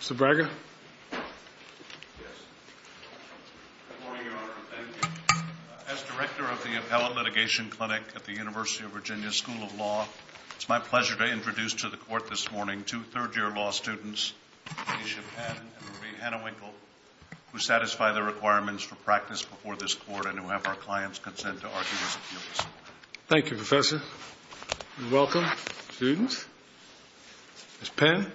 Mr. Braga? Yes. Good morning, Your Honor. Thank you. As director of the Appellate Litigation Clinic at the University of Virginia School of Law, it's my pleasure to introduce to the Court this morning two third-year law students, Aisha Penn and Marie Hanna-Winkle, who satisfy the requirements for practice before this Court and who have our client's consent to argue this appeal this morning. Thank you, Professor. You're welcome. Students? Ms. Penn?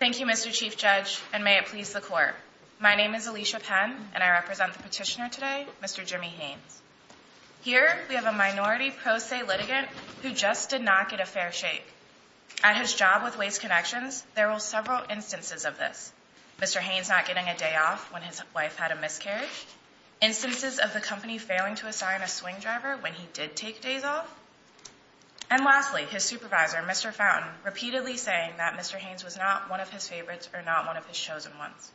Thank you, Mr. Chief Judge, and may it please the Court. My name is Alicia Penn, and I represent the petitioner today, Mr. Jimmy Haynes. Here, we have a minority pro se litigant who just did not get a fair shake. At his job with Waste Connections, there were several instances of this. Mr. Haynes not getting a day off when his wife had a miscarriage. Instances of the company failing to assign a swing driver when he did take days off. And lastly, his supervisor, Mr. Fountain, repeatedly saying that Mr. Haynes was not one of his favorites or not one of his chosen ones.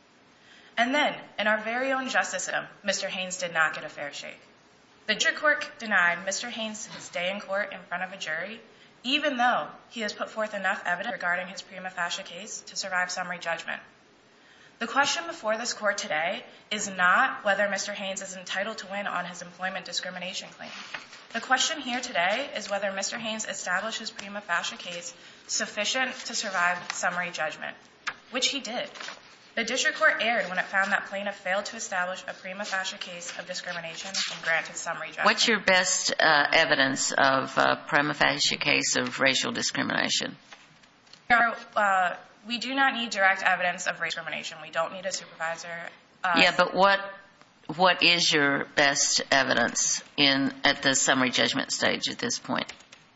And then, in our very own justice system, Mr. Haynes did not get a fair shake. The judge denied Mr. Haynes his day in court in front of a jury, even though he has put forth enough evidence regarding his prima facie case to survive summary judgment. The question before this Court today is not whether Mr. Haynes is entitled to win on his employment discrimination claim. The question here today is whether Mr. Haynes established his prima facie case sufficient to survive summary judgment, which he did. The district court erred when it found that Plano failed to establish a prima facie case of discrimination and granted summary judgment. What's your best evidence of a prima facie case of racial discrimination? We do not need direct evidence of racial discrimination. We don't need a supervisor. Yeah, but what is your best evidence at the summary judgment stage at this point?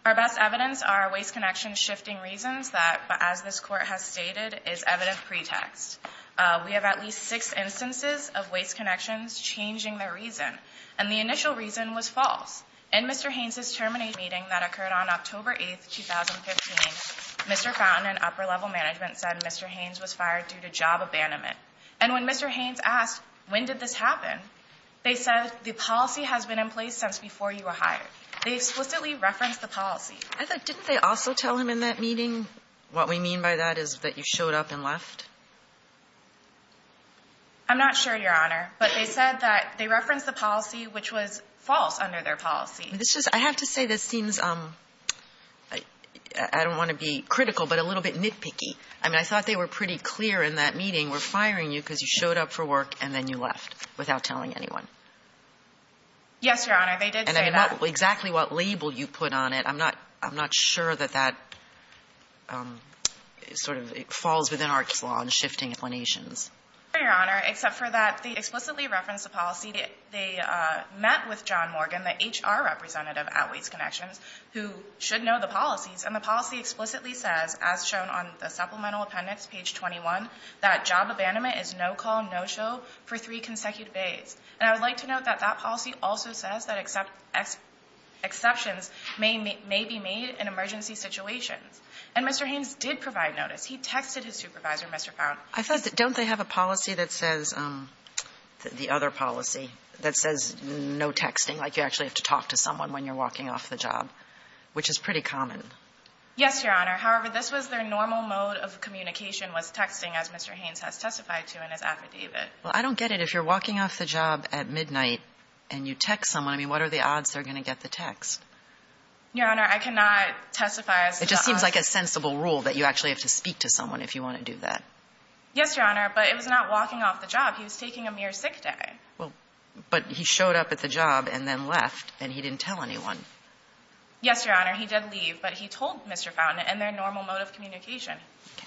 Our best evidence are waste connection shifting reasons that, as this Court has stated, is evident pretext. We have at least six instances of waste connections changing their reason, and the initial reason was false. In Mr. Haynes' termination meeting that occurred on October 8th, 2015, Mr. Fountain and upper-level management said Mr. Haynes was fired due to job abandonment. And when Mr. Haynes asked, when did this happen, they said, the policy has been in place since before you were hired. They explicitly referenced the policy. Heather, didn't they also tell him in that meeting, what we mean by that is that you showed up and left? I'm not sure, Your Honor, but they said that they referenced the policy, which was false under their policy. I have to say this seems, I don't want to be critical, but a little bit nitpicky. I mean, I thought they were pretty clear in that meeting, we're firing you because you showed up for work and then you left without telling anyone. Yes, Your Honor, they did say that. I'm not exactly what label you put on it. I'm not sure that that sort of falls within ARC's law in shifting explanations. No, Your Honor, except for that they explicitly referenced the policy. They met with John Morgan, the HR representative at Waste Connections, who should know the policies. And the policy explicitly says, as shown on the supplemental appendix, page 21, that job abandonment is no-call, no-show for three consecutive days. And I would like to note that that policy also says that exceptions may be made in emergency situations. And Mr. Haynes did provide notice. He texted his supervisor, Mr. Pound. I thought, don't they have a policy that says, the other policy, that says no texting, like you actually have to talk to someone when you're walking off the job, which is pretty common? Yes, Your Honor. However, this was their normal mode of communication was texting, as Mr. Haynes has testified to in his affidavit. Well, I don't get it. If you're walking off the job at midnight and you text someone, I mean, what are the odds they're going to get the text? Your Honor, I cannot testify as to the odds. It just seems like a sensible rule that you actually have to speak to someone if you want to do that. Yes, Your Honor, but it was not walking off the job. He was taking a mere sick day. Well, but he showed up at the job and then left, and he didn't tell anyone. Yes, Your Honor, he did leave, but he told Mr. Fountain it in their normal mode of communication. Okay.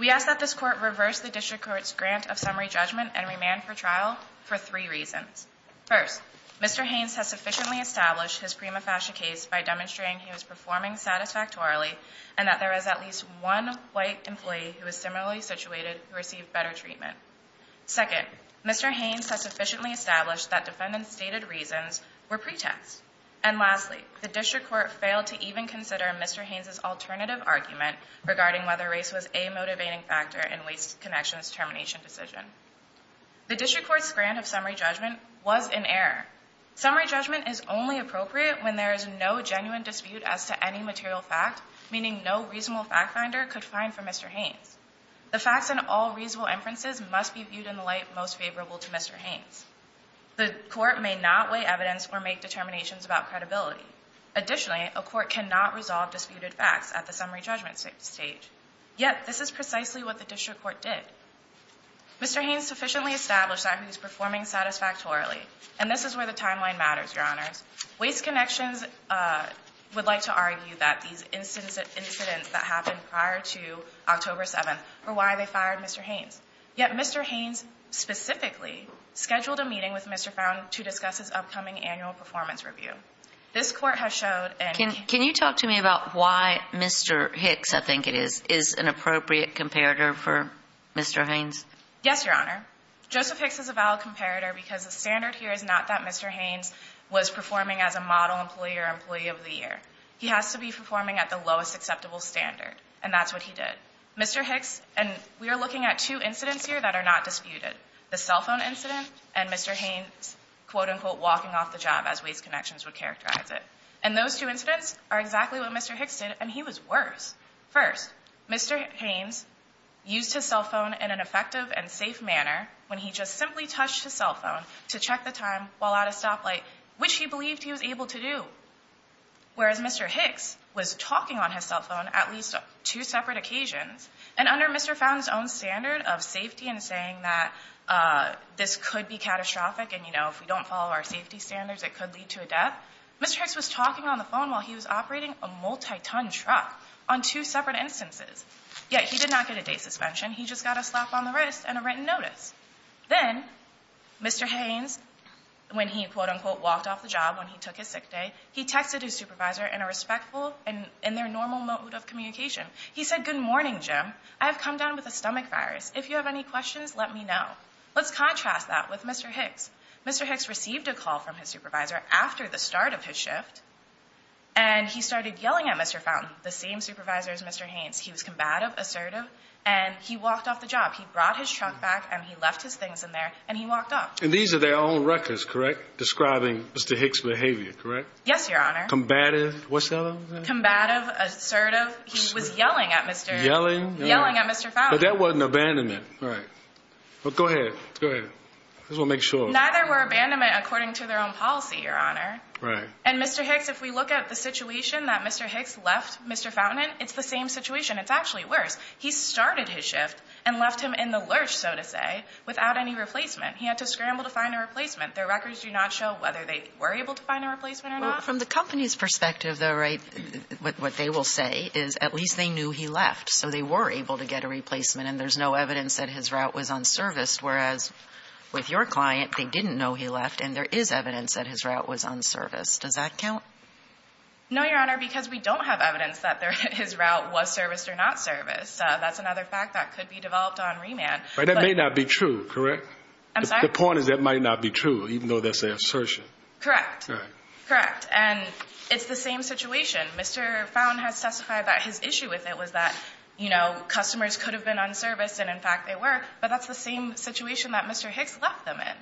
We ask that this court reverse the district court's grant of summary judgment and remand for trial for three reasons. First, Mr. Haynes has sufficiently established his prima facie case by demonstrating he was performing satisfactorily and that there was at least one white employee who was similarly situated who received better treatment. Second, Mr. Haynes has sufficiently established that defendant's stated reasons were pretext. And lastly, the district court failed to even consider Mr. Haynes' alternative argument regarding whether race was a motivating factor in Waste Connection's termination decision. The district court's grant of summary judgment was in error. Summary judgment is only appropriate when there is no genuine dispute as to any material fact, meaning no reasonable fact finder could find for Mr. Haynes. The facts in all reasonable inferences must be viewed in the light most favorable to Mr. Haynes. The court may not weigh evidence or make determinations about credibility. Additionally, a court cannot resolve disputed facts at the summary judgment stage. Yet, this is precisely what the district court did. Mr. Haynes sufficiently established that he was performing satisfactorily. And this is where the timeline matters, Your Honors. Waste Connections would like to argue that these incidents that happened prior to October 7th were why they fired Mr. Haynes. Yet, Mr. Haynes specifically scheduled a meeting with Mr. Found to discuss his upcoming annual performance review. This court has showed and can you talk to me about why Mr. Hicks, I think it is, is an appropriate comparator for Mr. Haynes? Yes, Your Honor. Joseph Hicks is a valid comparator because the standard here is not that Mr. Haynes was performing as a model employee or employee of the year. He has to be performing at the lowest acceptable standard. And that's what he did. Mr. Hicks, and we are looking at two incidents here that are not disputed, the cell phone incident and Mr. Haynes, quote, unquote, walking off the job as Waste Connections would characterize it. And those two incidents are exactly what Mr. Hicks did, and he was worse. First, Mr. Haynes used his cell phone in an effective and safe manner when he just simply touched his cell phone to check the time while at a stoplight, which he believed he was able to do, whereas Mr. Hicks was talking on his cell phone at least on two separate occasions. And under Mr. Fountain's own standard of safety and saying that this could be catastrophic and, you know, if we don't follow our safety standards, it could lead to a death, Mr. Hicks was talking on the phone while he was operating a multi-ton truck on two separate instances. Yet he did not get a day suspension. He just got a slap on the wrist and a written notice. Then Mr. Haynes, when he, quote, unquote, walked off the job, when he took his sick day, he texted his supervisor in a respectful and in their normal mode of communication. He said, Good morning, Jim. I have come down with a stomach virus. If you have any questions, let me know. Let's contrast that with Mr. Hicks. Mr. Hicks received a call from his supervisor after the start of his shift, and he started yelling at Mr. Fountain, the same supervisor as Mr. Haynes. He was combative, assertive, and he walked off the job. He brought his truck back, and he left his things in there, and he walked off. And these are their own records, correct, describing Mr. Hicks' behavior, correct? Yes, Your Honor. Combative? What's the other one? Combative, assertive. He was yelling at Mr. Fountain. But that wasn't abandonment. Right. Go ahead. Go ahead. I just want to make sure. Neither were abandonment according to their own policy, Your Honor. Right. And Mr. Hicks, if we look at the situation that Mr. Hicks left Mr. Fountain in, it's the same situation. It's actually worse. He started his shift and left him in the lurch, so to say, without any replacement. He had to scramble to find a replacement. Their records do not show whether they were able to find a replacement or not. Well, from the company's perspective, though, right, what they will say is at least they knew he left, so they were able to get a replacement, and there's no evidence that his route was unserviced, whereas with your client, they didn't know he left, and there is evidence that his route was unserviced. Does that count? No, Your Honor, because we don't have evidence that his route was serviced or not serviced. That's another fact that could be developed on remand. But that may not be true, correct? I'm sorry? The point is that might not be true, even though that's an assertion. Correct. Correct. And it's the same situation. Mr. Fountain has testified that his issue with it was that, you know, customers could have been unserviced, and, in fact, they were, but that's the same situation that Mr. Hicks left them in.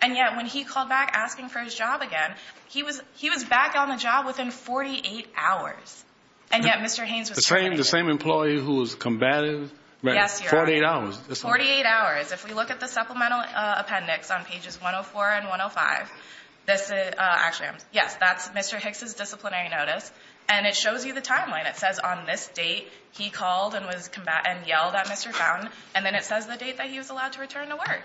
And yet when he called back asking for his job again, he was back on the job within 48 hours. And yet Mr. Haynes was still working. The same employee who was combative? Yes, Your Honor. 48 hours. 48 hours. If we look at the supplemental appendix on pages 104 and 105, this is, actually, yes, that's Mr. Hicks' disciplinary notice, and it shows you the timeline. It says on this date he called and yelled at Mr. Fountain, and then it says the date that he was allowed to return to work.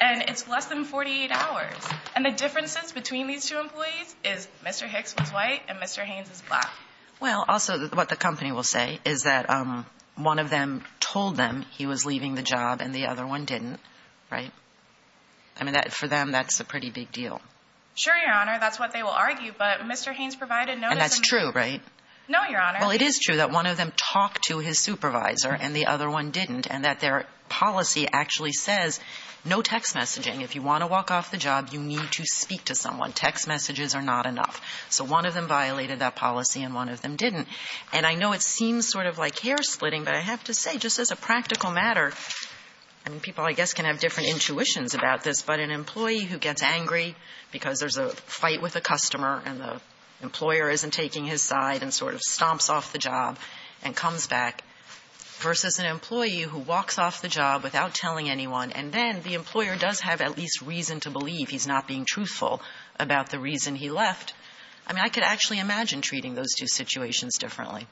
And it's less than 48 hours. And the differences between these two employees is Mr. Hicks was white and Mr. Haynes is black. Well, also, what the company will say is that one of them told them he was leaving the job and the other one didn't, right? I mean, for them, that's a pretty big deal. Sure, Your Honor. That's what they will argue. But Mr. Haynes provided notice. And that's true, right? No, Your Honor. Well, it is true that one of them talked to his supervisor and the other one didn't, and that their policy actually says no text messaging. If you want to walk off the job, you need to speak to someone. Text messages are not enough. So one of them violated that policy and one of them didn't. And I know it seems sort of like hair splitting, but I have to say, just as a practical matter, I mean, people, I guess, can have different intuitions about this, but an employee who gets angry because there's a fight with a customer and the employer isn't taking his side and sort of stomps off the job and comes back, versus an employee who walks off the job without telling anyone, and then the employer does have at least reason to believe he's not being truthful about the reason he left. I mean, I could actually imagine treating those two situations differently.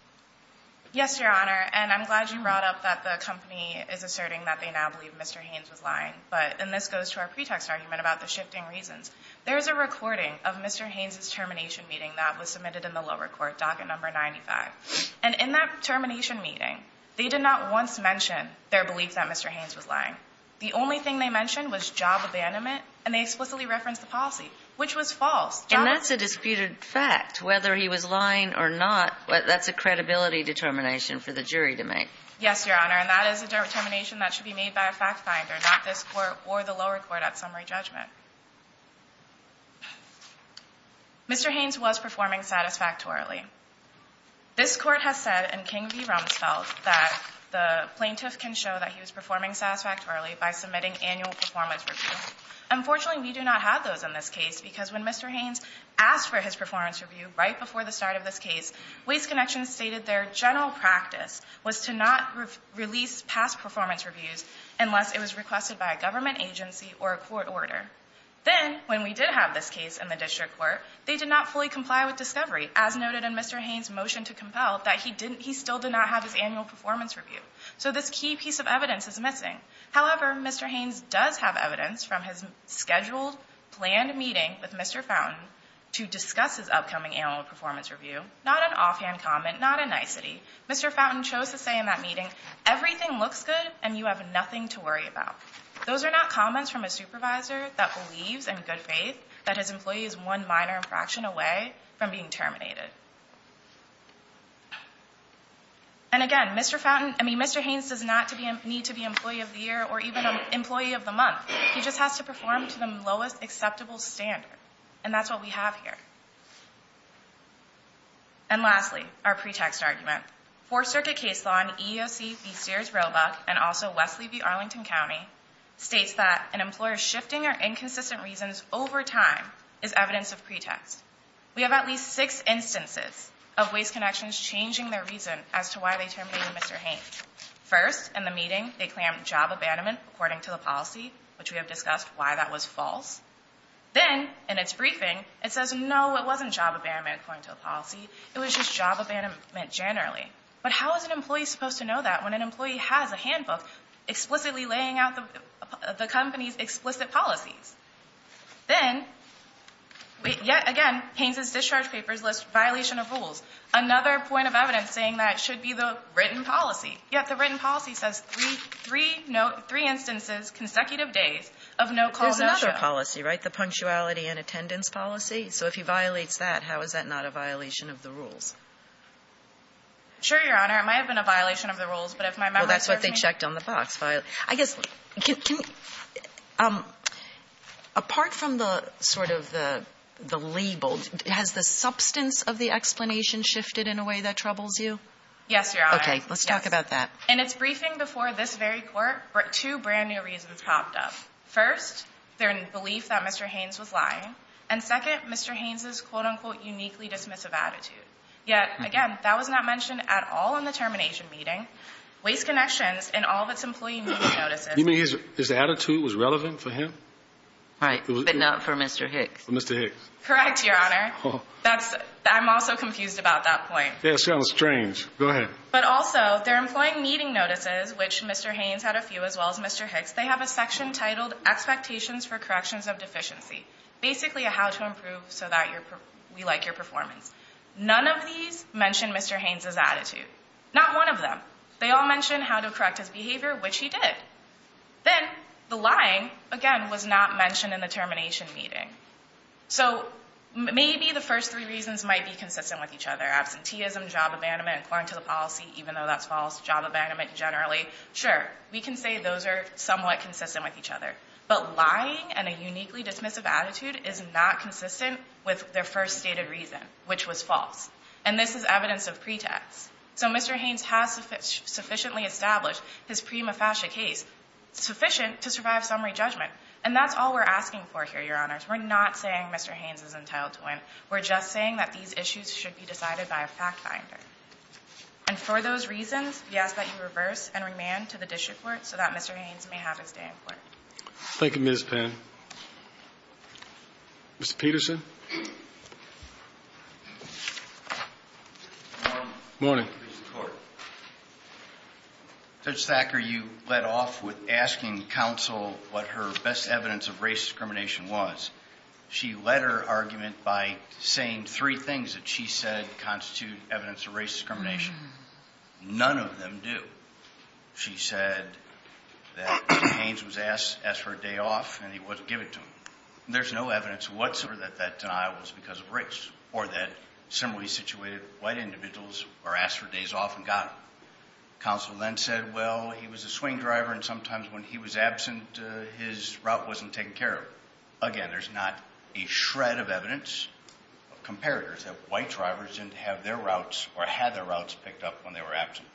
Yes, Your Honor. And I'm glad you brought up that the company is asserting that they now believe Mr. Haynes was lying. But, and this goes to our pretext argument about the shifting reasons, there is a recording of Mr. Haynes' termination meeting that was submitted in the lower court, docket number 95. And in that termination meeting, they did not once mention their belief that Mr. Haynes was lying. The only thing they mentioned was job abandonment, and they explicitly referenced the policy, which was false. And that's a disputed fact, whether he was lying or not, that's a credibility determination for the jury to make. Yes, Your Honor, and that is a determination that should be made by a fact finder, not this court or the lower court at summary judgment. Mr. Haynes was performing satisfactorily. This Court has said, and King v. Rumsfeld, that the plaintiff can show that he was performing satisfactorily by submitting annual performance review. Unfortunately, we do not have those in this case, because when Mr. Haynes asked for his performance review right before the start of this case, Waste Connections stated their general practice was to not release past performance reviews unless it was requested by a government agency or a court order. Then, when we did have this case in the district court, they did not fully comply with discovery, as noted in Mr. Haynes' motion to compel, that he didn't, he still did not have his annual performance review. So this key piece of evidence is missing. However, Mr. Haynes does have evidence from his scheduled, planned meeting with Mr. Fountain to discuss his upcoming annual performance review, not an offhand comment, not a nicety. Mr. Fountain chose to say in that meeting, everything looks good and you have nothing to worry about. Those are not comments from a supervisor that believes in good faith that his employee is one minor infraction away from being terminated. And again, Mr. Fountain, I mean, Mr. Haynes does not need to be Employee of the Year or even Employee of the Month. He just has to perform to the lowest acceptable standard. And that's what we have here. And lastly, our pretext argument. Fourth Circuit case law in EEOC v. Sears Roebuck and also Wesley v. Arlington County states that an employer shifting or inconsistent reasons over time is evidence of pretext. We have at least six instances of Waste Connections changing their reason as to why they terminated Mr. Haynes. First, in the meeting, they claimed job abandonment according to the policy, which we have discussed why that was false. Then, in its briefing, it says, no, it wasn't job abandonment according to the policy. It was just job abandonment generally. But how is an employee supposed to know that when an employee has a handbook explicitly laying out the company's explicit policies? Then, yet again, Haynes' discharge papers list violation of rules, another point of evidence saying that it should be the written policy. Yet the written policy says three instances, consecutive days of no call, no show. There's another policy, right? The punctuality and attendance policy? So if he violates that, how is that not a violation of the rules? Sure, Your Honor. It might have been a violation of the rules, but if my memory serves me right. Well, that's what they checked on the box. I guess, apart from the sort of the label, has the substance of the explanation shifted in a way that troubles you? Yes, Your Honor. Okay, let's talk about that. In its briefing before this very court, two brand new reasons popped up. First, their belief that Mr. Haynes was lying. And second, Mr. Haynes' quote, unquote, uniquely dismissive attitude. Yet, again, that was not mentioned at all in the termination meeting. Waste Connections and all of its employee meeting notices. You mean his attitude was relevant for him? Right, but not for Mr. Hicks. For Mr. Hicks. Correct, Your Honor. I'm also confused about that point. Yeah, it sounds strange. Go ahead. But also, their employee meeting notices, which Mr. Haynes had a few as well as Mr. Hicks, they have a section titled, Expectations for Corrections of Deficiency. None of these mention Mr. Haynes' attitude. Not one of them. They all mention how to correct his behavior, which he did. Then, the lying, again, was not mentioned in the termination meeting. So, maybe the first three reasons might be consistent with each other. Absenteeism, job abandonment, according to the policy, even though that's false, job abandonment generally. Sure, we can say those are somewhat consistent with each other. But lying and a uniquely dismissive attitude is not consistent with their first stated reason, which was false. And this is evidence of pretext. So, Mr. Haynes has sufficiently established his prima facie case, sufficient to survive summary judgment. And that's all we're asking for here, Your Honors. We're not saying Mr. Haynes is entitled to win. We're just saying that these issues should be decided by a fact finder. And for those reasons, we ask that you reverse and remand to the district court so that Mr. Haynes may have his day in court. Thank you, Ms. Penn. Mr. Peterson. Morning. Morning. Judge Thacker, you led off with asking counsel what her best evidence of race discrimination was. She led her argument by saying three things that she said constitute evidence of race discrimination. None of them do. She said that Haynes was asked to ask for a day off and he wasn't giving it to him. There's no evidence whatsoever that that denial was because of race or that similarly situated white individuals were asked for days off and got them. Counsel then said, well, he was a swing driver and sometimes when he was absent, his route wasn't taken care of. Again, there's not a shred of evidence of comparators that white drivers didn't have their routes or had their routes picked up when they were absent.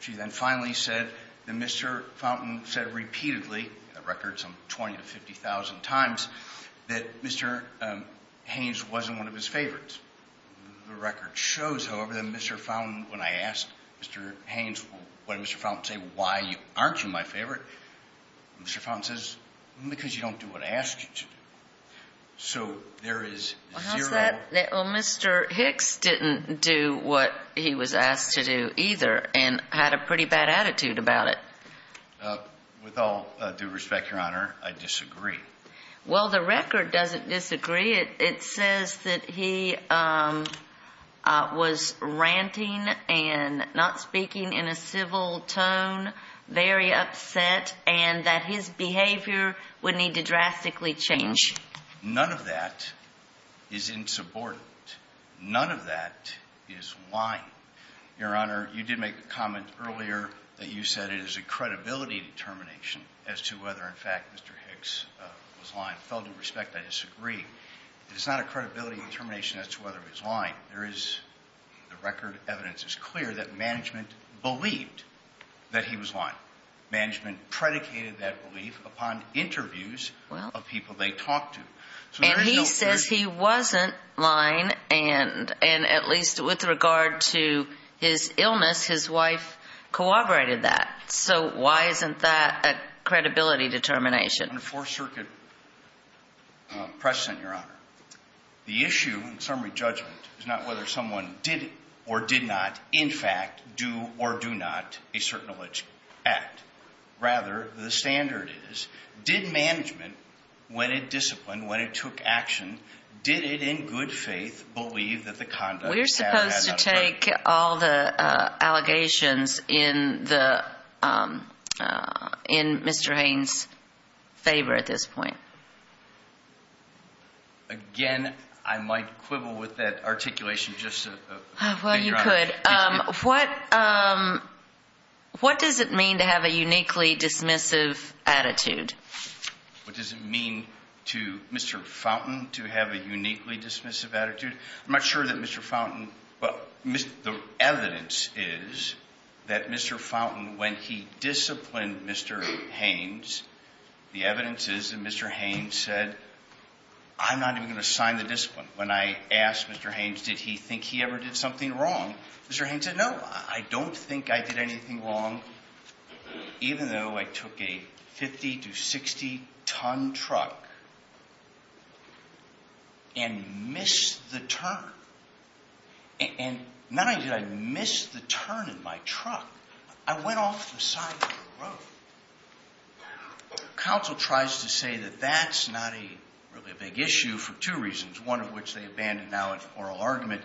She then finally said that Mr. Fountain said repeatedly, a record some 20,000 to 50,000 times, that Mr. Haynes wasn't one of his favorites. The record shows, however, that Mr. Fountain, when I asked Mr. Haynes, when Mr. Fountain said, why aren't you my favorite? Mr. Fountain says, because you don't do what I asked you to do. So there is zero. Well, Mr. Hicks didn't do what he was asked to do either and had a pretty bad attitude about it. With all due respect, Your Honor, I disagree. Well, the record doesn't disagree. It says that he was ranting and not speaking in a civil tone, very upset, and that his behavior would need to drastically change. None of that is insubordinate. None of that is lying. Your Honor, you did make a comment earlier that you said it is a credibility determination as to whether, in fact, Mr. Hicks was lying. With all due respect, I disagree. It is not a credibility determination as to whether he was lying. The record evidence is clear that management believed that he was lying. Management predicated that belief upon interviews of people they talked to. And he says he wasn't lying, and at least with regard to his illness, his wife corroborated that. So why isn't that a credibility determination? Under Fourth Circuit precedent, Your Honor, the issue in summary judgment is not whether someone did or did not, in fact, do or do not a certain alleged act. Rather, the standard is, did management, when it disciplined, when it took action, did it in good faith believe that the conduct had or had not occurred? We're supposed to take all the allegations in Mr. Haines' favor at this point. Again, I might quibble with that articulation just to figure out. Well, you could. But what does it mean to have a uniquely dismissive attitude? What does it mean to Mr. Fountain to have a uniquely dismissive attitude? I'm not sure that Mr. Fountain, well, the evidence is that Mr. Fountain, when he disciplined Mr. Haines, the evidence is that Mr. Haines said, I'm not even going to assign the discipline. When I asked Mr. Haines, did he think he ever did something wrong, Mr. Haines said, no, I don't think I did anything wrong, even though I took a 50 to 60-ton truck and missed the turn. Not only did I miss the turn in my truck, I went off the side of the road. Counsel tries to say that that's not really a big issue for two reasons, one of which they abandon now in oral argument.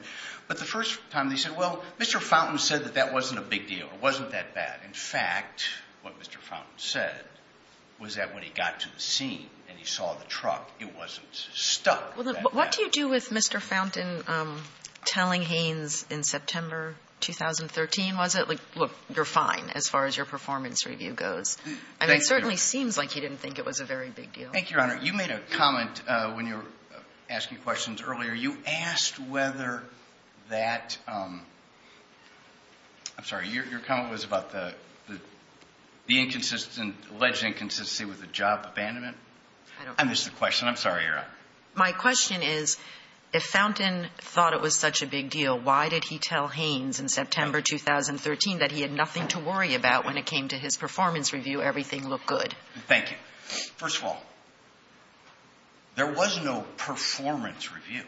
But the first time they said, well, Mr. Fountain said that that wasn't a big deal. It wasn't that bad. In fact, what Mr. Fountain said was that when he got to the scene and he saw the truck, it wasn't stuck that bad. What do you do with Mr. Fountain telling Haines in September 2013, was it? Well, you're fine as far as your performance review goes. I mean, it certainly seems like he didn't think it was a very big deal. Thank you, Your Honor. You made a comment when you were asking questions earlier. You asked whether that, I'm sorry, your comment was about the inconsistent, alleged inconsistency with the job abandonment. I'm sorry, Your Honor. My question is, if Fountain thought it was such a big deal, why did he tell Haines in September 2013 that he had nothing to worry about when it came to his performance review, everything looked good? Thank you. First of all, there was no performance review.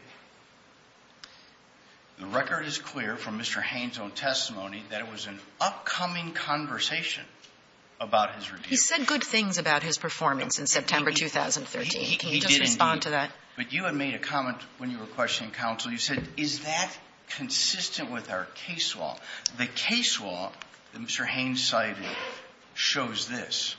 The record is clear from Mr. Haines' own testimony that it was an upcoming conversation about his review. He said good things about his performance in September 2013. He did indeed. Can you just respond to that? But you had made a comment when you were questioning counsel. You said, is that consistent with our case law? The case law that Mr. Haines cited shows this.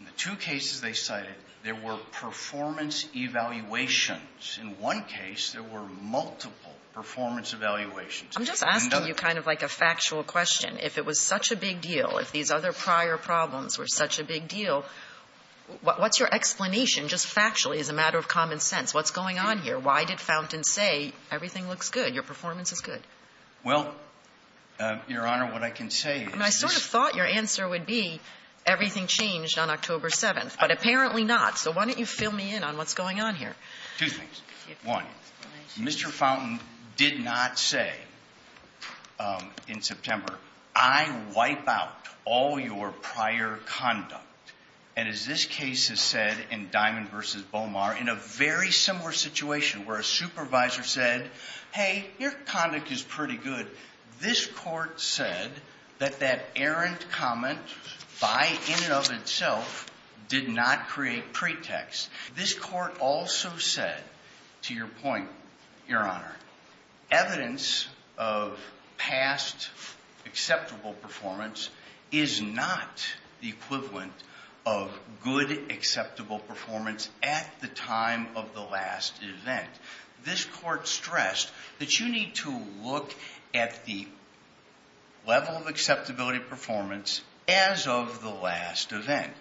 In the two cases they cited, there were performance evaluations. In one case, there were multiple performance evaluations. I'm just asking you kind of like a factual question. If it was such a big deal, if these other prior problems were such a big deal, what's your explanation, just factually, as a matter of common sense? What's going on here? Why did Fountain say everything looks good, your performance is good? Well, Your Honor, what I can say is this. I mean, I sort of thought your answer would be everything changed on October 7th, but apparently not. So why don't you fill me in on what's going on here? Two things. One, Mr. Fountain did not say in September, I wipe out all your prior conduct. And as this case has said in Diamond v. Bomar, in a very similar situation where a supervisor said, hey, your conduct is pretty good, this court said that that errant comment by in and of itself did not create pretext. This court also said, to your point, Your Honor, evidence of past acceptable performance is not the equivalent of good acceptable performance at the time of the last event. This court stressed that you need to look at the level of acceptability performance as of the last event.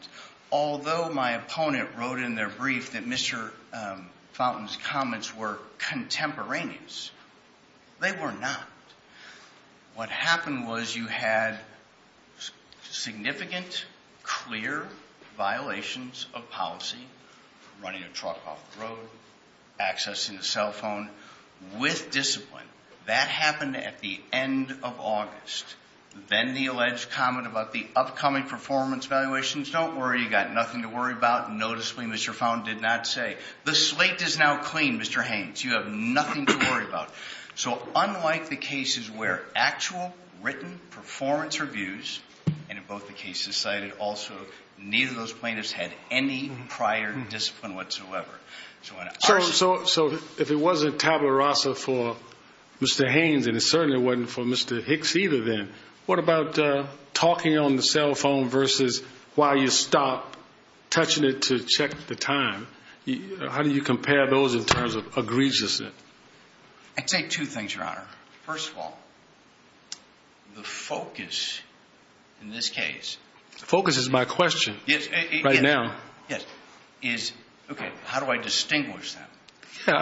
Although my opponent wrote in their brief that Mr. Fountain's comments were contemporaneous, they were not. What happened was you had significant, clear violations of policy, running a truck off the road, accessing a cell phone with discipline. That happened at the end of August. Then the alleged comment about the upcoming performance evaluations, don't worry, you've got nothing to worry about. Noticeably, Mr. Fountain did not say. The slate is now clean, Mr. Haynes. You have nothing to worry about. So unlike the cases where actual written performance reviews, and in both the cases cited also, neither of those plaintiffs had any prior discipline whatsoever. So if it wasn't tabula rasa for Mr. Haynes, and it certainly wasn't for Mr. Hicks either then, what about talking on the cell phone versus while you stop touching it to check the time? How do you compare those in terms of egregiousness? I'd say two things, Your Honor. First of all, the focus in this case. The focus is my question right now. How do I distinguish that?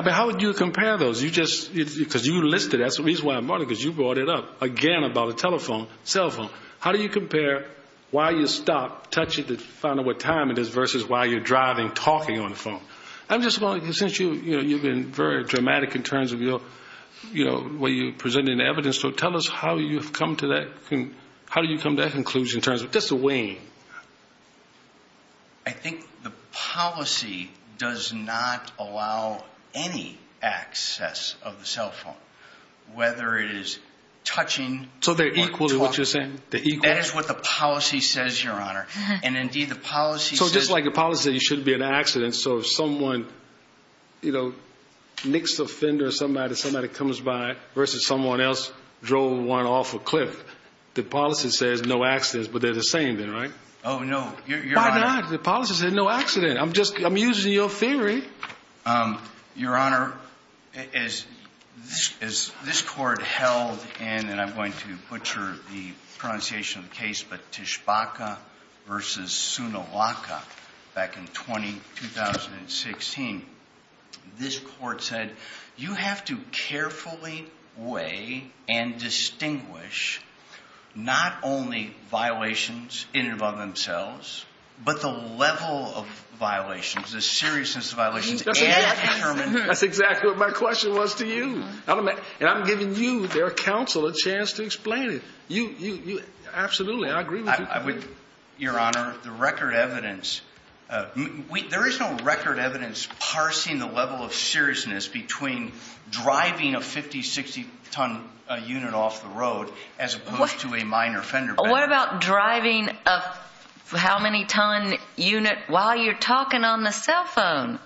How would you compare those? Because you listed it. That's the reason why I'm wondering, because you brought it up again about the telephone, cell phone. How do you compare while you stop touching it to find out what time it is versus while you're driving, talking on the phone? I'm just wondering, since you've been very dramatic in terms of the way you presented the evidence. So tell us how you've come to that conclusion in terms of just the weighing. I think the policy does not allow any access of the cell phone, whether it is touching or talking. So they're equal to what you're saying? They're equal. That is what the policy says, Your Honor. And, indeed, the policy says— So just like the policy says you shouldn't be in an accident, so if someone nicks a fender or somebody comes by versus someone else drove one off a cliff, the policy says no accidents, but they're the same then, right? Oh, no. Why not? The policy says no accident. I'm just—I'm using your theory. Your Honor, as this court held in—and I'm going to butcher the pronunciation of the case—but Tshibaka versus Sunilaka back in 2016, this court said you have to carefully weigh and distinguish not only violations in and among themselves, but the level of violations, the seriousness of violations, and determine— That's exactly what my question was to you. And I'm giving you, their counsel, a chance to explain it. You—absolutely, I agree with you completely. Your Honor, the record evidence—there is no record evidence parsing the level of seriousness between driving a 50-, 60-ton unit off the road as opposed to a minor fender. What about driving a how-many-ton unit while you're talking on the cell phone?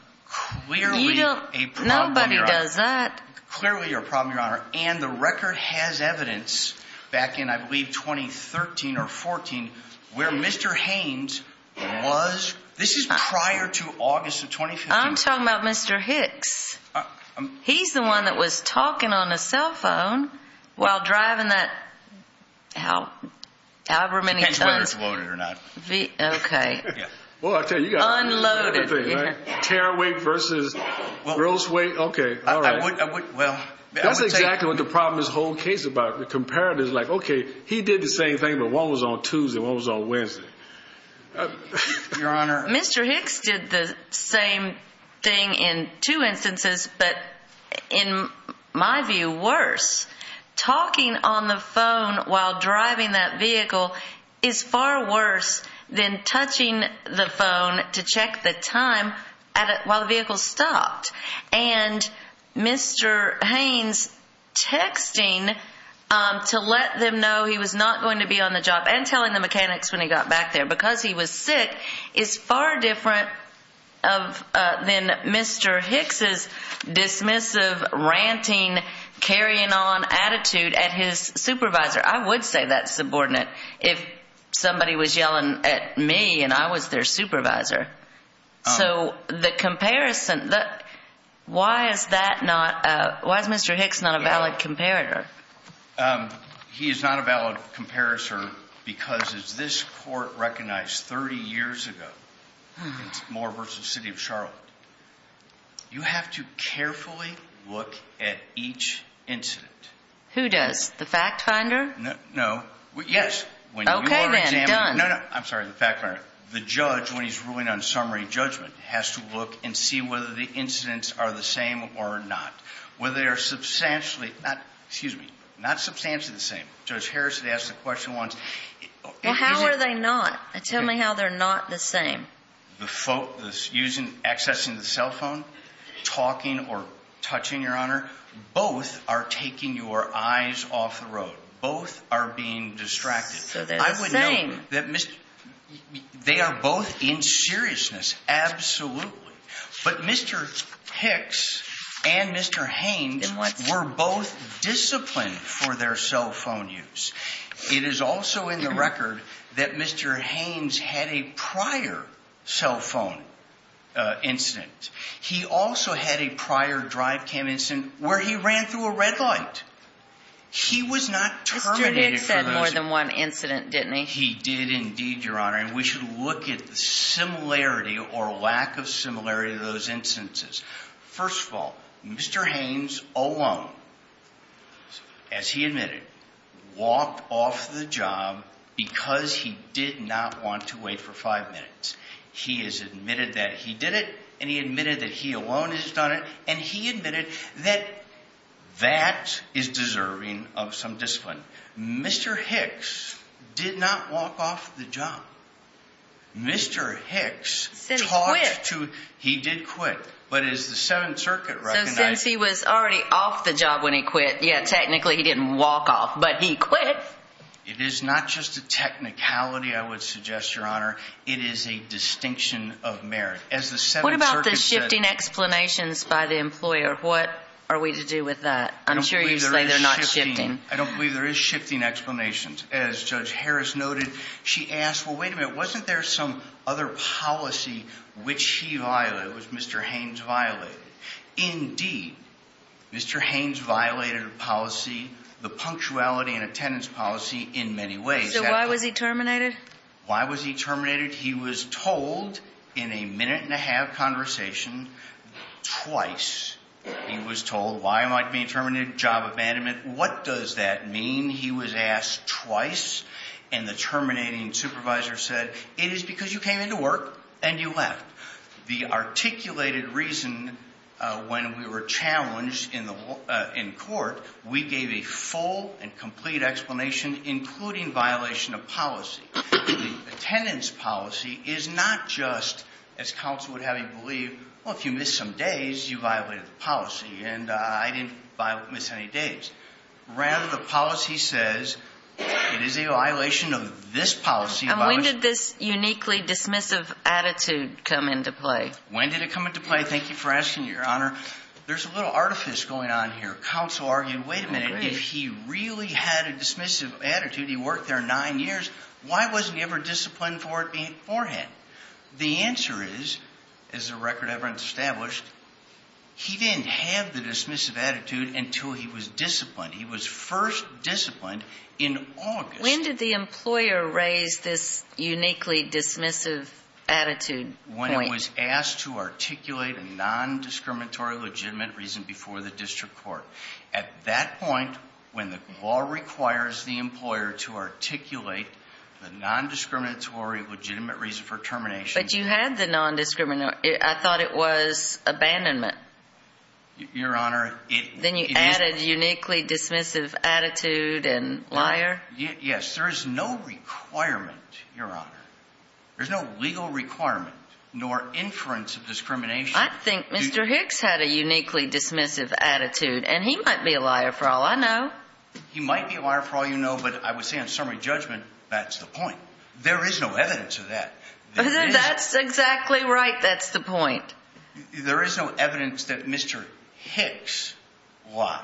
Clearly a problem, Your Honor. You don't—nobody does that. Clearly a problem, Your Honor. And the record has evidence back in, I believe, 2013 or 2014 where Mr. Haynes was—this is prior to August of 2015. I'm talking about Mr. Hicks. He's the one that was talking on the cell phone while driving that however many tons— Depends whether it's loaded or not. Okay. Unloaded. Tear weight versus gross weight. Okay, all right. I would—well— That's exactly what the problem is—the whole case about the comparatives. Like, okay, he did the same thing, but one was on Tuesday and one was on Wednesday. Your Honor— Mr. Hicks did the same thing in two instances, but in my view worse. Talking on the phone while driving that vehicle is far worse than touching the phone to check the time while the vehicle stopped. And Mr. Haynes texting to let them know he was not going to be on the job and telling the mechanics when he got back there because he was sick is far different than Mr. Hicks' dismissive, ranting, carrying on attitude at his supervisor. I would say that's subordinate if somebody was yelling at me and I was their supervisor. So the comparison—why is that not—why is Mr. Hicks not a valid comparator? He is not a valid comparator because, as this Court recognized 30 years ago in Moore v. City of Charlotte, you have to carefully look at each incident. Who does? The fact finder? No. Yes. Okay, then. Done. No, no. I'm sorry. The fact finder. The judge, when he's ruling on summary judgment, has to look and see whether the incidents are the same or not, whether they are substantially—excuse me, not substantially the same. Judge Harris had asked the question once. Well, how are they not? Tell me how they're not the same. The folks accessing the cell phone, talking or touching, Your Honor, both are taking your eyes off the road. Both are being distracted. So they're the same. They are both in seriousness, absolutely. But Mr. Hicks and Mr. Haynes were both disciplined for their cell phone use. It is also in the record that Mr. Haynes had a prior cell phone incident. He also had a prior drive-cam incident where he ran through a red light. He was not terminated for those— Mr. Hicks said more than one incident, didn't he? He did indeed, Your Honor, and we should look at the similarity or lack of similarity of those instances. First of all, Mr. Haynes alone, as he admitted, walked off the job because he did not want to wait for five minutes. He has admitted that he did it, and he admitted that he alone has done it, and he admitted that that is deserving of some discipline. Mr. Hicks did not walk off the job. Mr. Hicks talked to— Since he quit. He did quit. But as the Seventh Circuit recognized— So since he was already off the job when he quit, yeah, technically he didn't walk off, but he quit. It is not just a technicality, I would suggest, Your Honor. It is a distinction of merit. As the Seventh Circuit said— What about the shifting explanations by the employer? What are we to do with that? I'm sure you say they're not shifting. I don't believe there is shifting explanations. As Judge Harris noted, she asked, well, wait a minute, wasn't there some other policy which he violated, which Mr. Haynes violated? Indeed, Mr. Haynes violated a policy, the punctuality and attendance policy, in many ways. So why was he terminated? Why was he terminated? He was told in a minute-and-a-half conversation, twice, he was told, why am I being terminated? Job abandonment. What does that mean? He was asked twice. And the terminating supervisor said, it is because you came into work and you left. The articulated reason when we were challenged in court, we gave a full and complete explanation, including violation of policy. Attendance policy is not just, as counsel would have you believe, well, if you miss some days, you violated the policy, and I didn't miss any days. Rather, the policy says, it is a violation of this policy— And when did this uniquely dismissive attitude come into play? When did it come into play? Thank you for asking, Your Honor. There's a little artifice going on here. Counsel argued, wait a minute, if he really had a dismissive attitude, he worked there nine years, why wasn't he ever disciplined for it beforehand? The answer is, as the record ever established, he didn't have the dismissive attitude until he was disciplined. He was first disciplined in August. When did the employer raise this uniquely dismissive attitude point? When he was asked to articulate a nondiscriminatory legitimate reason before the district court. At that point, when the law requires the employer to articulate the nondiscriminatory legitimate reason for termination— But you had the nondiscriminatory—I thought it was abandonment. Your Honor, it— Then you added uniquely dismissive attitude and liar? Yes. There is no requirement, Your Honor. There's no legal requirement nor inference of discrimination. I think Mr. Hicks had a uniquely dismissive attitude, and he might be a liar for all I know. He might be a liar for all you know, but I would say on summary judgment, that's the point. There is no evidence of that. That's exactly right, that's the point. There is no evidence that Mr. Hicks lied.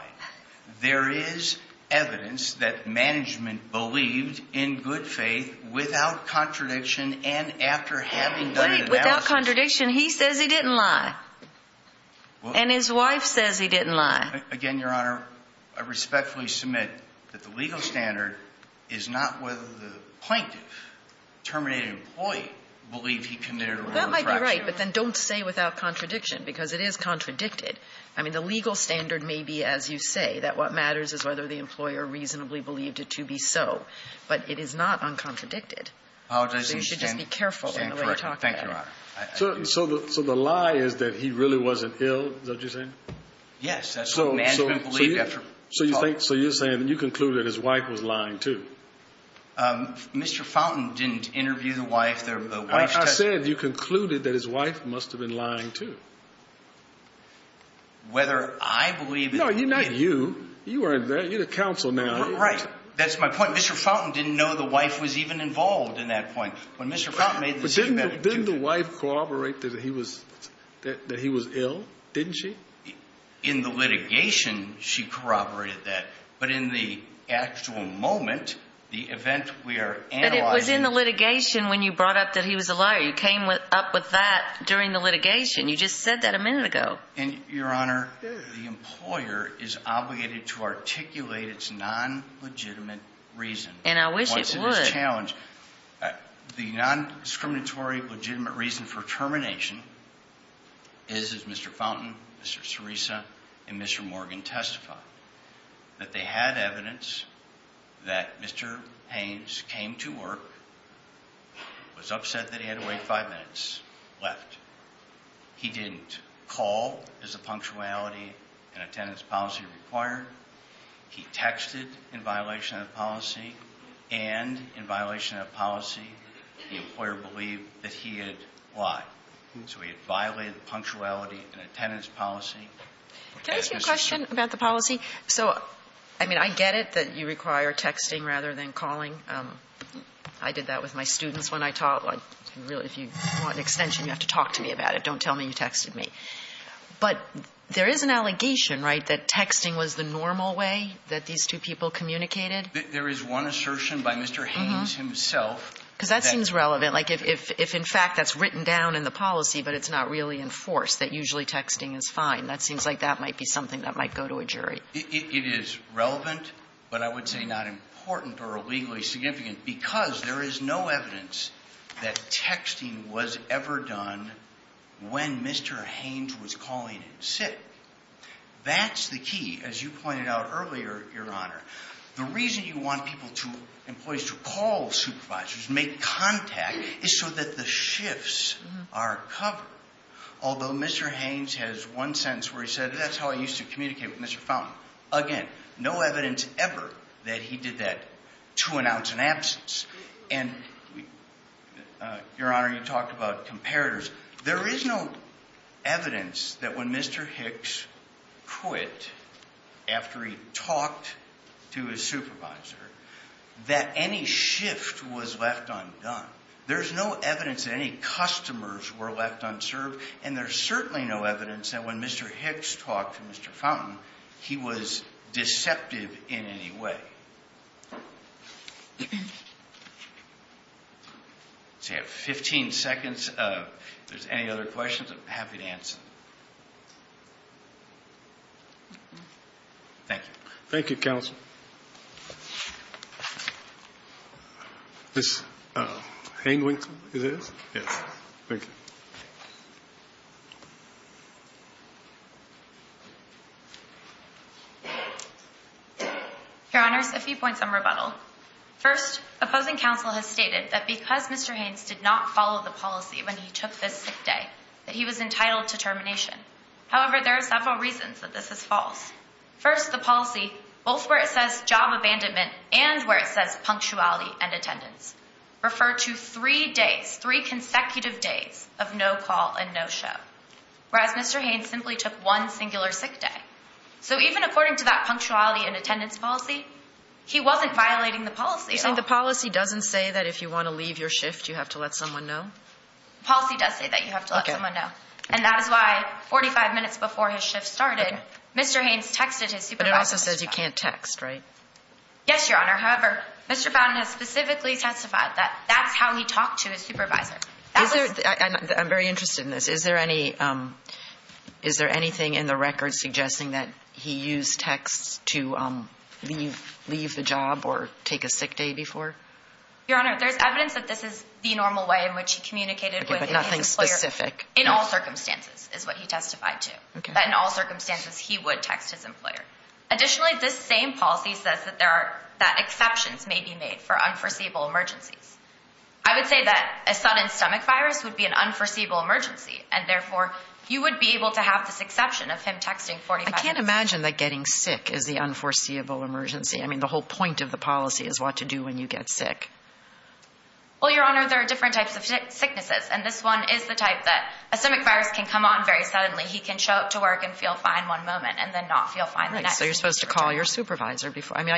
There is evidence that management believed in good faith without contradiction and after having done an analysis— Wait, without contradiction? He says he didn't lie. And his wife says he didn't lie. Again, Your Honor, I respectfully submit that the legal standard is not whether the plaintiff, terminated employee, believed he committed a wrongful action. That might be right, but then don't say without contradiction, because it is contradicted. I mean, the legal standard may be, as you say, that what matters is whether the employer reasonably believed it to be so. But it is not uncontradicted. So you should just be careful in the way you talk about it. Thank you, Your Honor. So the lie is that he really wasn't ill, is that what you're saying? Yes. That's what management believed. So you're saying that you conclude that his wife was lying, too? Mr. Fountain didn't interview the wife. The wife's testimony— I said you concluded that his wife must have been lying, too. Whether I believe— No, not you. You were in there. You're the counsel now. Right. That's my point. Mr. Fountain didn't know the wife was even involved in that point. When Mr. Fountain made the statement— But didn't the wife corroborate that he was ill? Didn't she? In the litigation, she corroborated that. But in the actual moment, the event we are analyzing— But it was in the litigation when you brought up that he was a liar. You came up with that during the litigation. You just said that a minute ago. And, Your Honor, the employer is obligated to articulate its non-legitimate reason. And I wish it would. The non-discriminatory legitimate reason for termination is, as Mr. Fountain, Mr. Sirisa, and Mr. Morgan testified, that they had evidence that Mr. Haynes came to work, was upset that he had to wait five minutes, left. He didn't call as a punctuality and attendance policy required. He texted in violation of the policy. And in violation of the policy, the employer believed that he had lied. So he had violated the punctuality and attendance policy. Can I ask you a question about the policy? So, I mean, I get it that you require texting rather than calling. I did that with my students when I taught. If you want an extension, you have to talk to me about it. Don't tell me you texted me. But there is an allegation, right, that texting was the normal way that these two people communicated? There is one assertion by Mr. Haynes himself. Because that seems relevant. Like, if in fact that's written down in the policy, but it's not really enforced, that usually texting is fine. That seems like that might be something that might go to a jury. It is relevant, but I would say not important or legally significant because there is no evidence that texting was ever done when Mr. Haynes was calling in sick. That's the key, as you pointed out earlier, Your Honor. The reason you want employees to call supervisors, make contact, is so that the shifts are covered. Although Mr. Haynes has one sentence where he said, that's how I used to communicate with Mr. Fountain. Again, no evidence ever that he did that to announce an absence. And, Your Honor, you talked about comparators. There is no evidence that when Mr. Hicks quit, after he talked to his supervisor, that any shift was left undone. There's no evidence that any customers were left unserved, and there's certainly no evidence that when Mr. Hicks talked to Mr. Fountain, he was deceptive in any way. So you have 15 seconds. If there's any other questions, I'm happy to answer. Thank you. Thank you, counsel. Ms. Haines, is it? Yes. Thank you. Your Honors, a few points of rebuttal. First, opposing counsel has stated that because Mr. Haynes did not follow the policy when he took this sick day, that he was entitled to termination. However, there are several reasons that this is false. First, the policy, both where it says job abandonment and where it says punctuality and attendance, refer to three days, three consecutive days of no call and no show, whereas Mr. Haines simply took one singular sick day. So even according to that punctuality and attendance policy, he wasn't violating the policy at all. So the policy doesn't say that if you want to leave your shift, you have to let someone know? The policy does say that you have to let someone know. And that is why 45 minutes before his shift started, Mr. Haines texted his supervisor. But it also says you can't text, right? Yes, Your Honor. However, Mr. Fountain has specifically testified that that's how he talked to his supervisor. I'm very interested in this. Is there anything in the record suggesting that he used texts to leave the job or take a sick day before? Your Honor, there's evidence that this is the normal way in which he communicated with his employer. Okay, but nothing specific? In all circumstances is what he testified to. But in all circumstances, he would text his employer. Additionally, this same policy says that exceptions may be made for unforeseeable emergencies. I would say that a sudden stomach virus would be an unforeseeable emergency, and therefore you would be able to have this exception of him texting 45 minutes before. I can't imagine that getting sick is the unforeseeable emergency. I mean, the whole point of the policy is what to do when you get sick. Well, Your Honor, there are different types of sicknesses, and this one is the type that a stomach virus can come on very suddenly. He can show up to work and feel fine one moment and then not feel fine the next. Right, so you're supposed to call your supervisor before. I mean,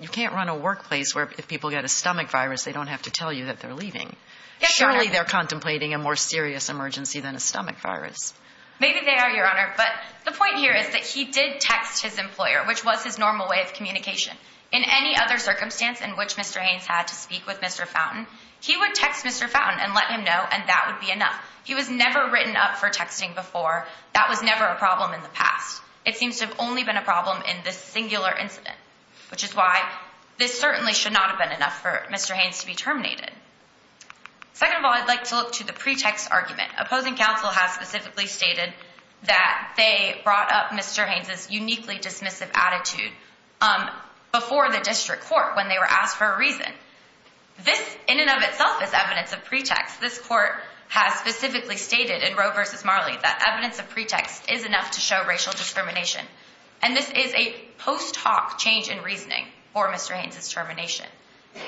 you can't run a workplace where if people get a stomach virus, they don't have to tell you that they're leaving. Surely they're contemplating a more serious emergency than a stomach virus. Maybe they are, Your Honor, but the point here is that he did text his employer, which was his normal way of communication. In any other circumstance in which Mr. Haynes had to speak with Mr. Fountain, he would text Mr. Fountain and let him know, and that would be enough. If he was never written up for texting before, that was never a problem in the past. It seems to have only been a problem in this singular incident, which is why this certainly should not have been enough for Mr. Haynes to be terminated. Second of all, I'd like to look to the pretext argument. Opposing counsel has specifically stated that they brought up Mr. Haynes' uniquely dismissive attitude before the district court when they were asked for a reason. This, in and of itself, is evidence of pretext. This court has specifically stated in Roe v. Marley that evidence of pretext is enough to show racial discrimination, and this is a post hoc change in reasoning for Mr. Haynes' termination.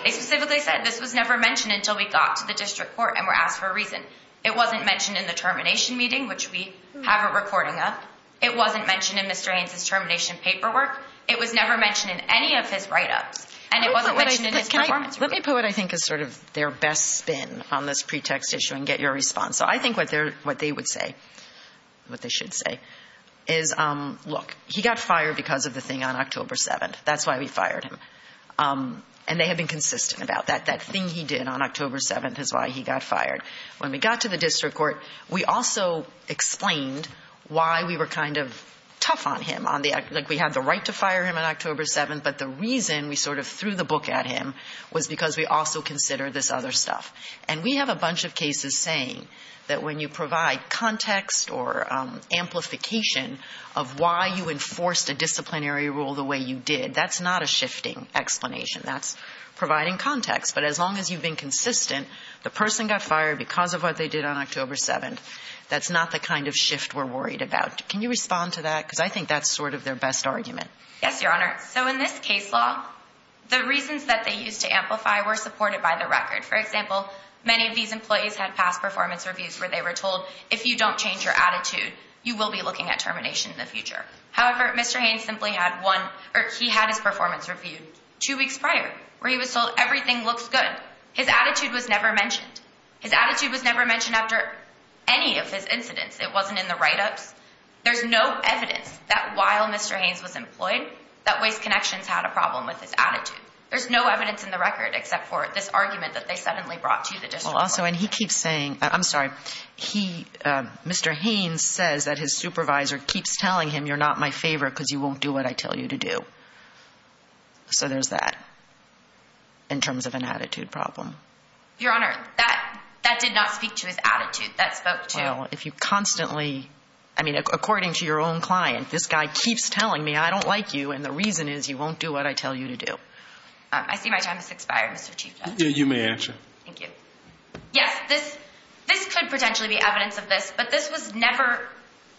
They specifically said this was never mentioned until we got to the district court and were asked for a reason. It wasn't mentioned in the termination meeting, which we have a recording of. It wasn't mentioned in Mr. Haynes' termination paperwork. It was never mentioned in any of his write-ups, and it wasn't mentioned in his performance review. Let me put what I think is sort of their best spin on this pretext issue and get your response. So I think what they would say, what they should say, is, look, he got fired because of the thing on October 7th. That's why we fired him, and they have been consistent about that. That thing he did on October 7th is why he got fired. When we got to the district court, we also explained why we were kind of tough on him. We had the right to fire him on October 7th, but the reason we sort of threw the book at him was because we also considered this other stuff. And we have a bunch of cases saying that when you provide context or amplification of why you enforced a disciplinary rule the way you did, that's not a shifting explanation. That's providing context. But as long as you've been consistent, the person got fired because of what they did on October 7th. That's not the kind of shift we're worried about. Can you respond to that? Because I think that's sort of their best argument. Yes, Your Honor. So in this case law, the reasons that they used to amplify were supported by the record. For example, many of these employees had past performance reviews where they were told, if you don't change your attitude, you will be looking at termination in the future. However, Mr. Haynes simply had one, or he had his performance reviewed two weeks prior where he was told everything looks good. His attitude was never mentioned. His attitude was never mentioned after any of his incidents. It wasn't in the write-ups. There's no evidence that while Mr. Haynes was employed that Waste Connections had a problem with his attitude. There's no evidence in the record except for this argument that they suddenly brought to the district court. Well, also, and he keeps saying – I'm sorry. Mr. Haynes says that his supervisor keeps telling him, you're not my favorite because you won't do what I tell you to do. So there's that in terms of an attitude problem. Your Honor, that did not speak to his attitude. That spoke to – Well, if you constantly – I mean, according to your own client, this guy keeps telling me I don't like you and the reason is you won't do what I tell you to do. I see my time has expired, Mr. Chief Judge. You may answer. Thank you. Yes, this could potentially be evidence of this, but this was never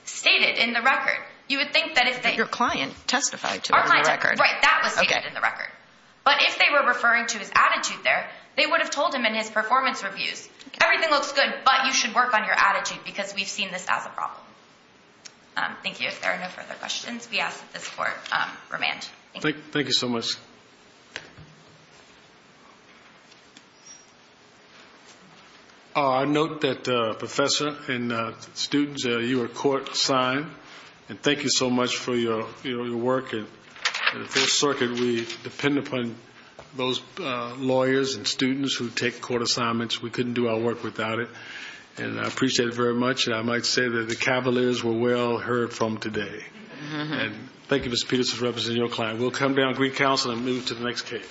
stated in the record. You would think that if they – But your client testified to it in the record. Right, that was stated in the record. But if they were referring to his attitude there, they would have told him in his performance reviews, everything looks good, but you should work on your attitude because we've seen this as a problem. Thank you. If there are no further questions, we ask that this court remand. Thank you so much. I note that, Professor and students, you were court-signed, and thank you so much for your work. At the Fourth Circuit, we depend upon those lawyers and students who take court assignments. We couldn't do our work without it, and I appreciate it very much, and I might say that the cavaliers were well heard from today. And thank you, Ms. Peterson, for representing your client. We'll come down and greet counsel and move to the next case.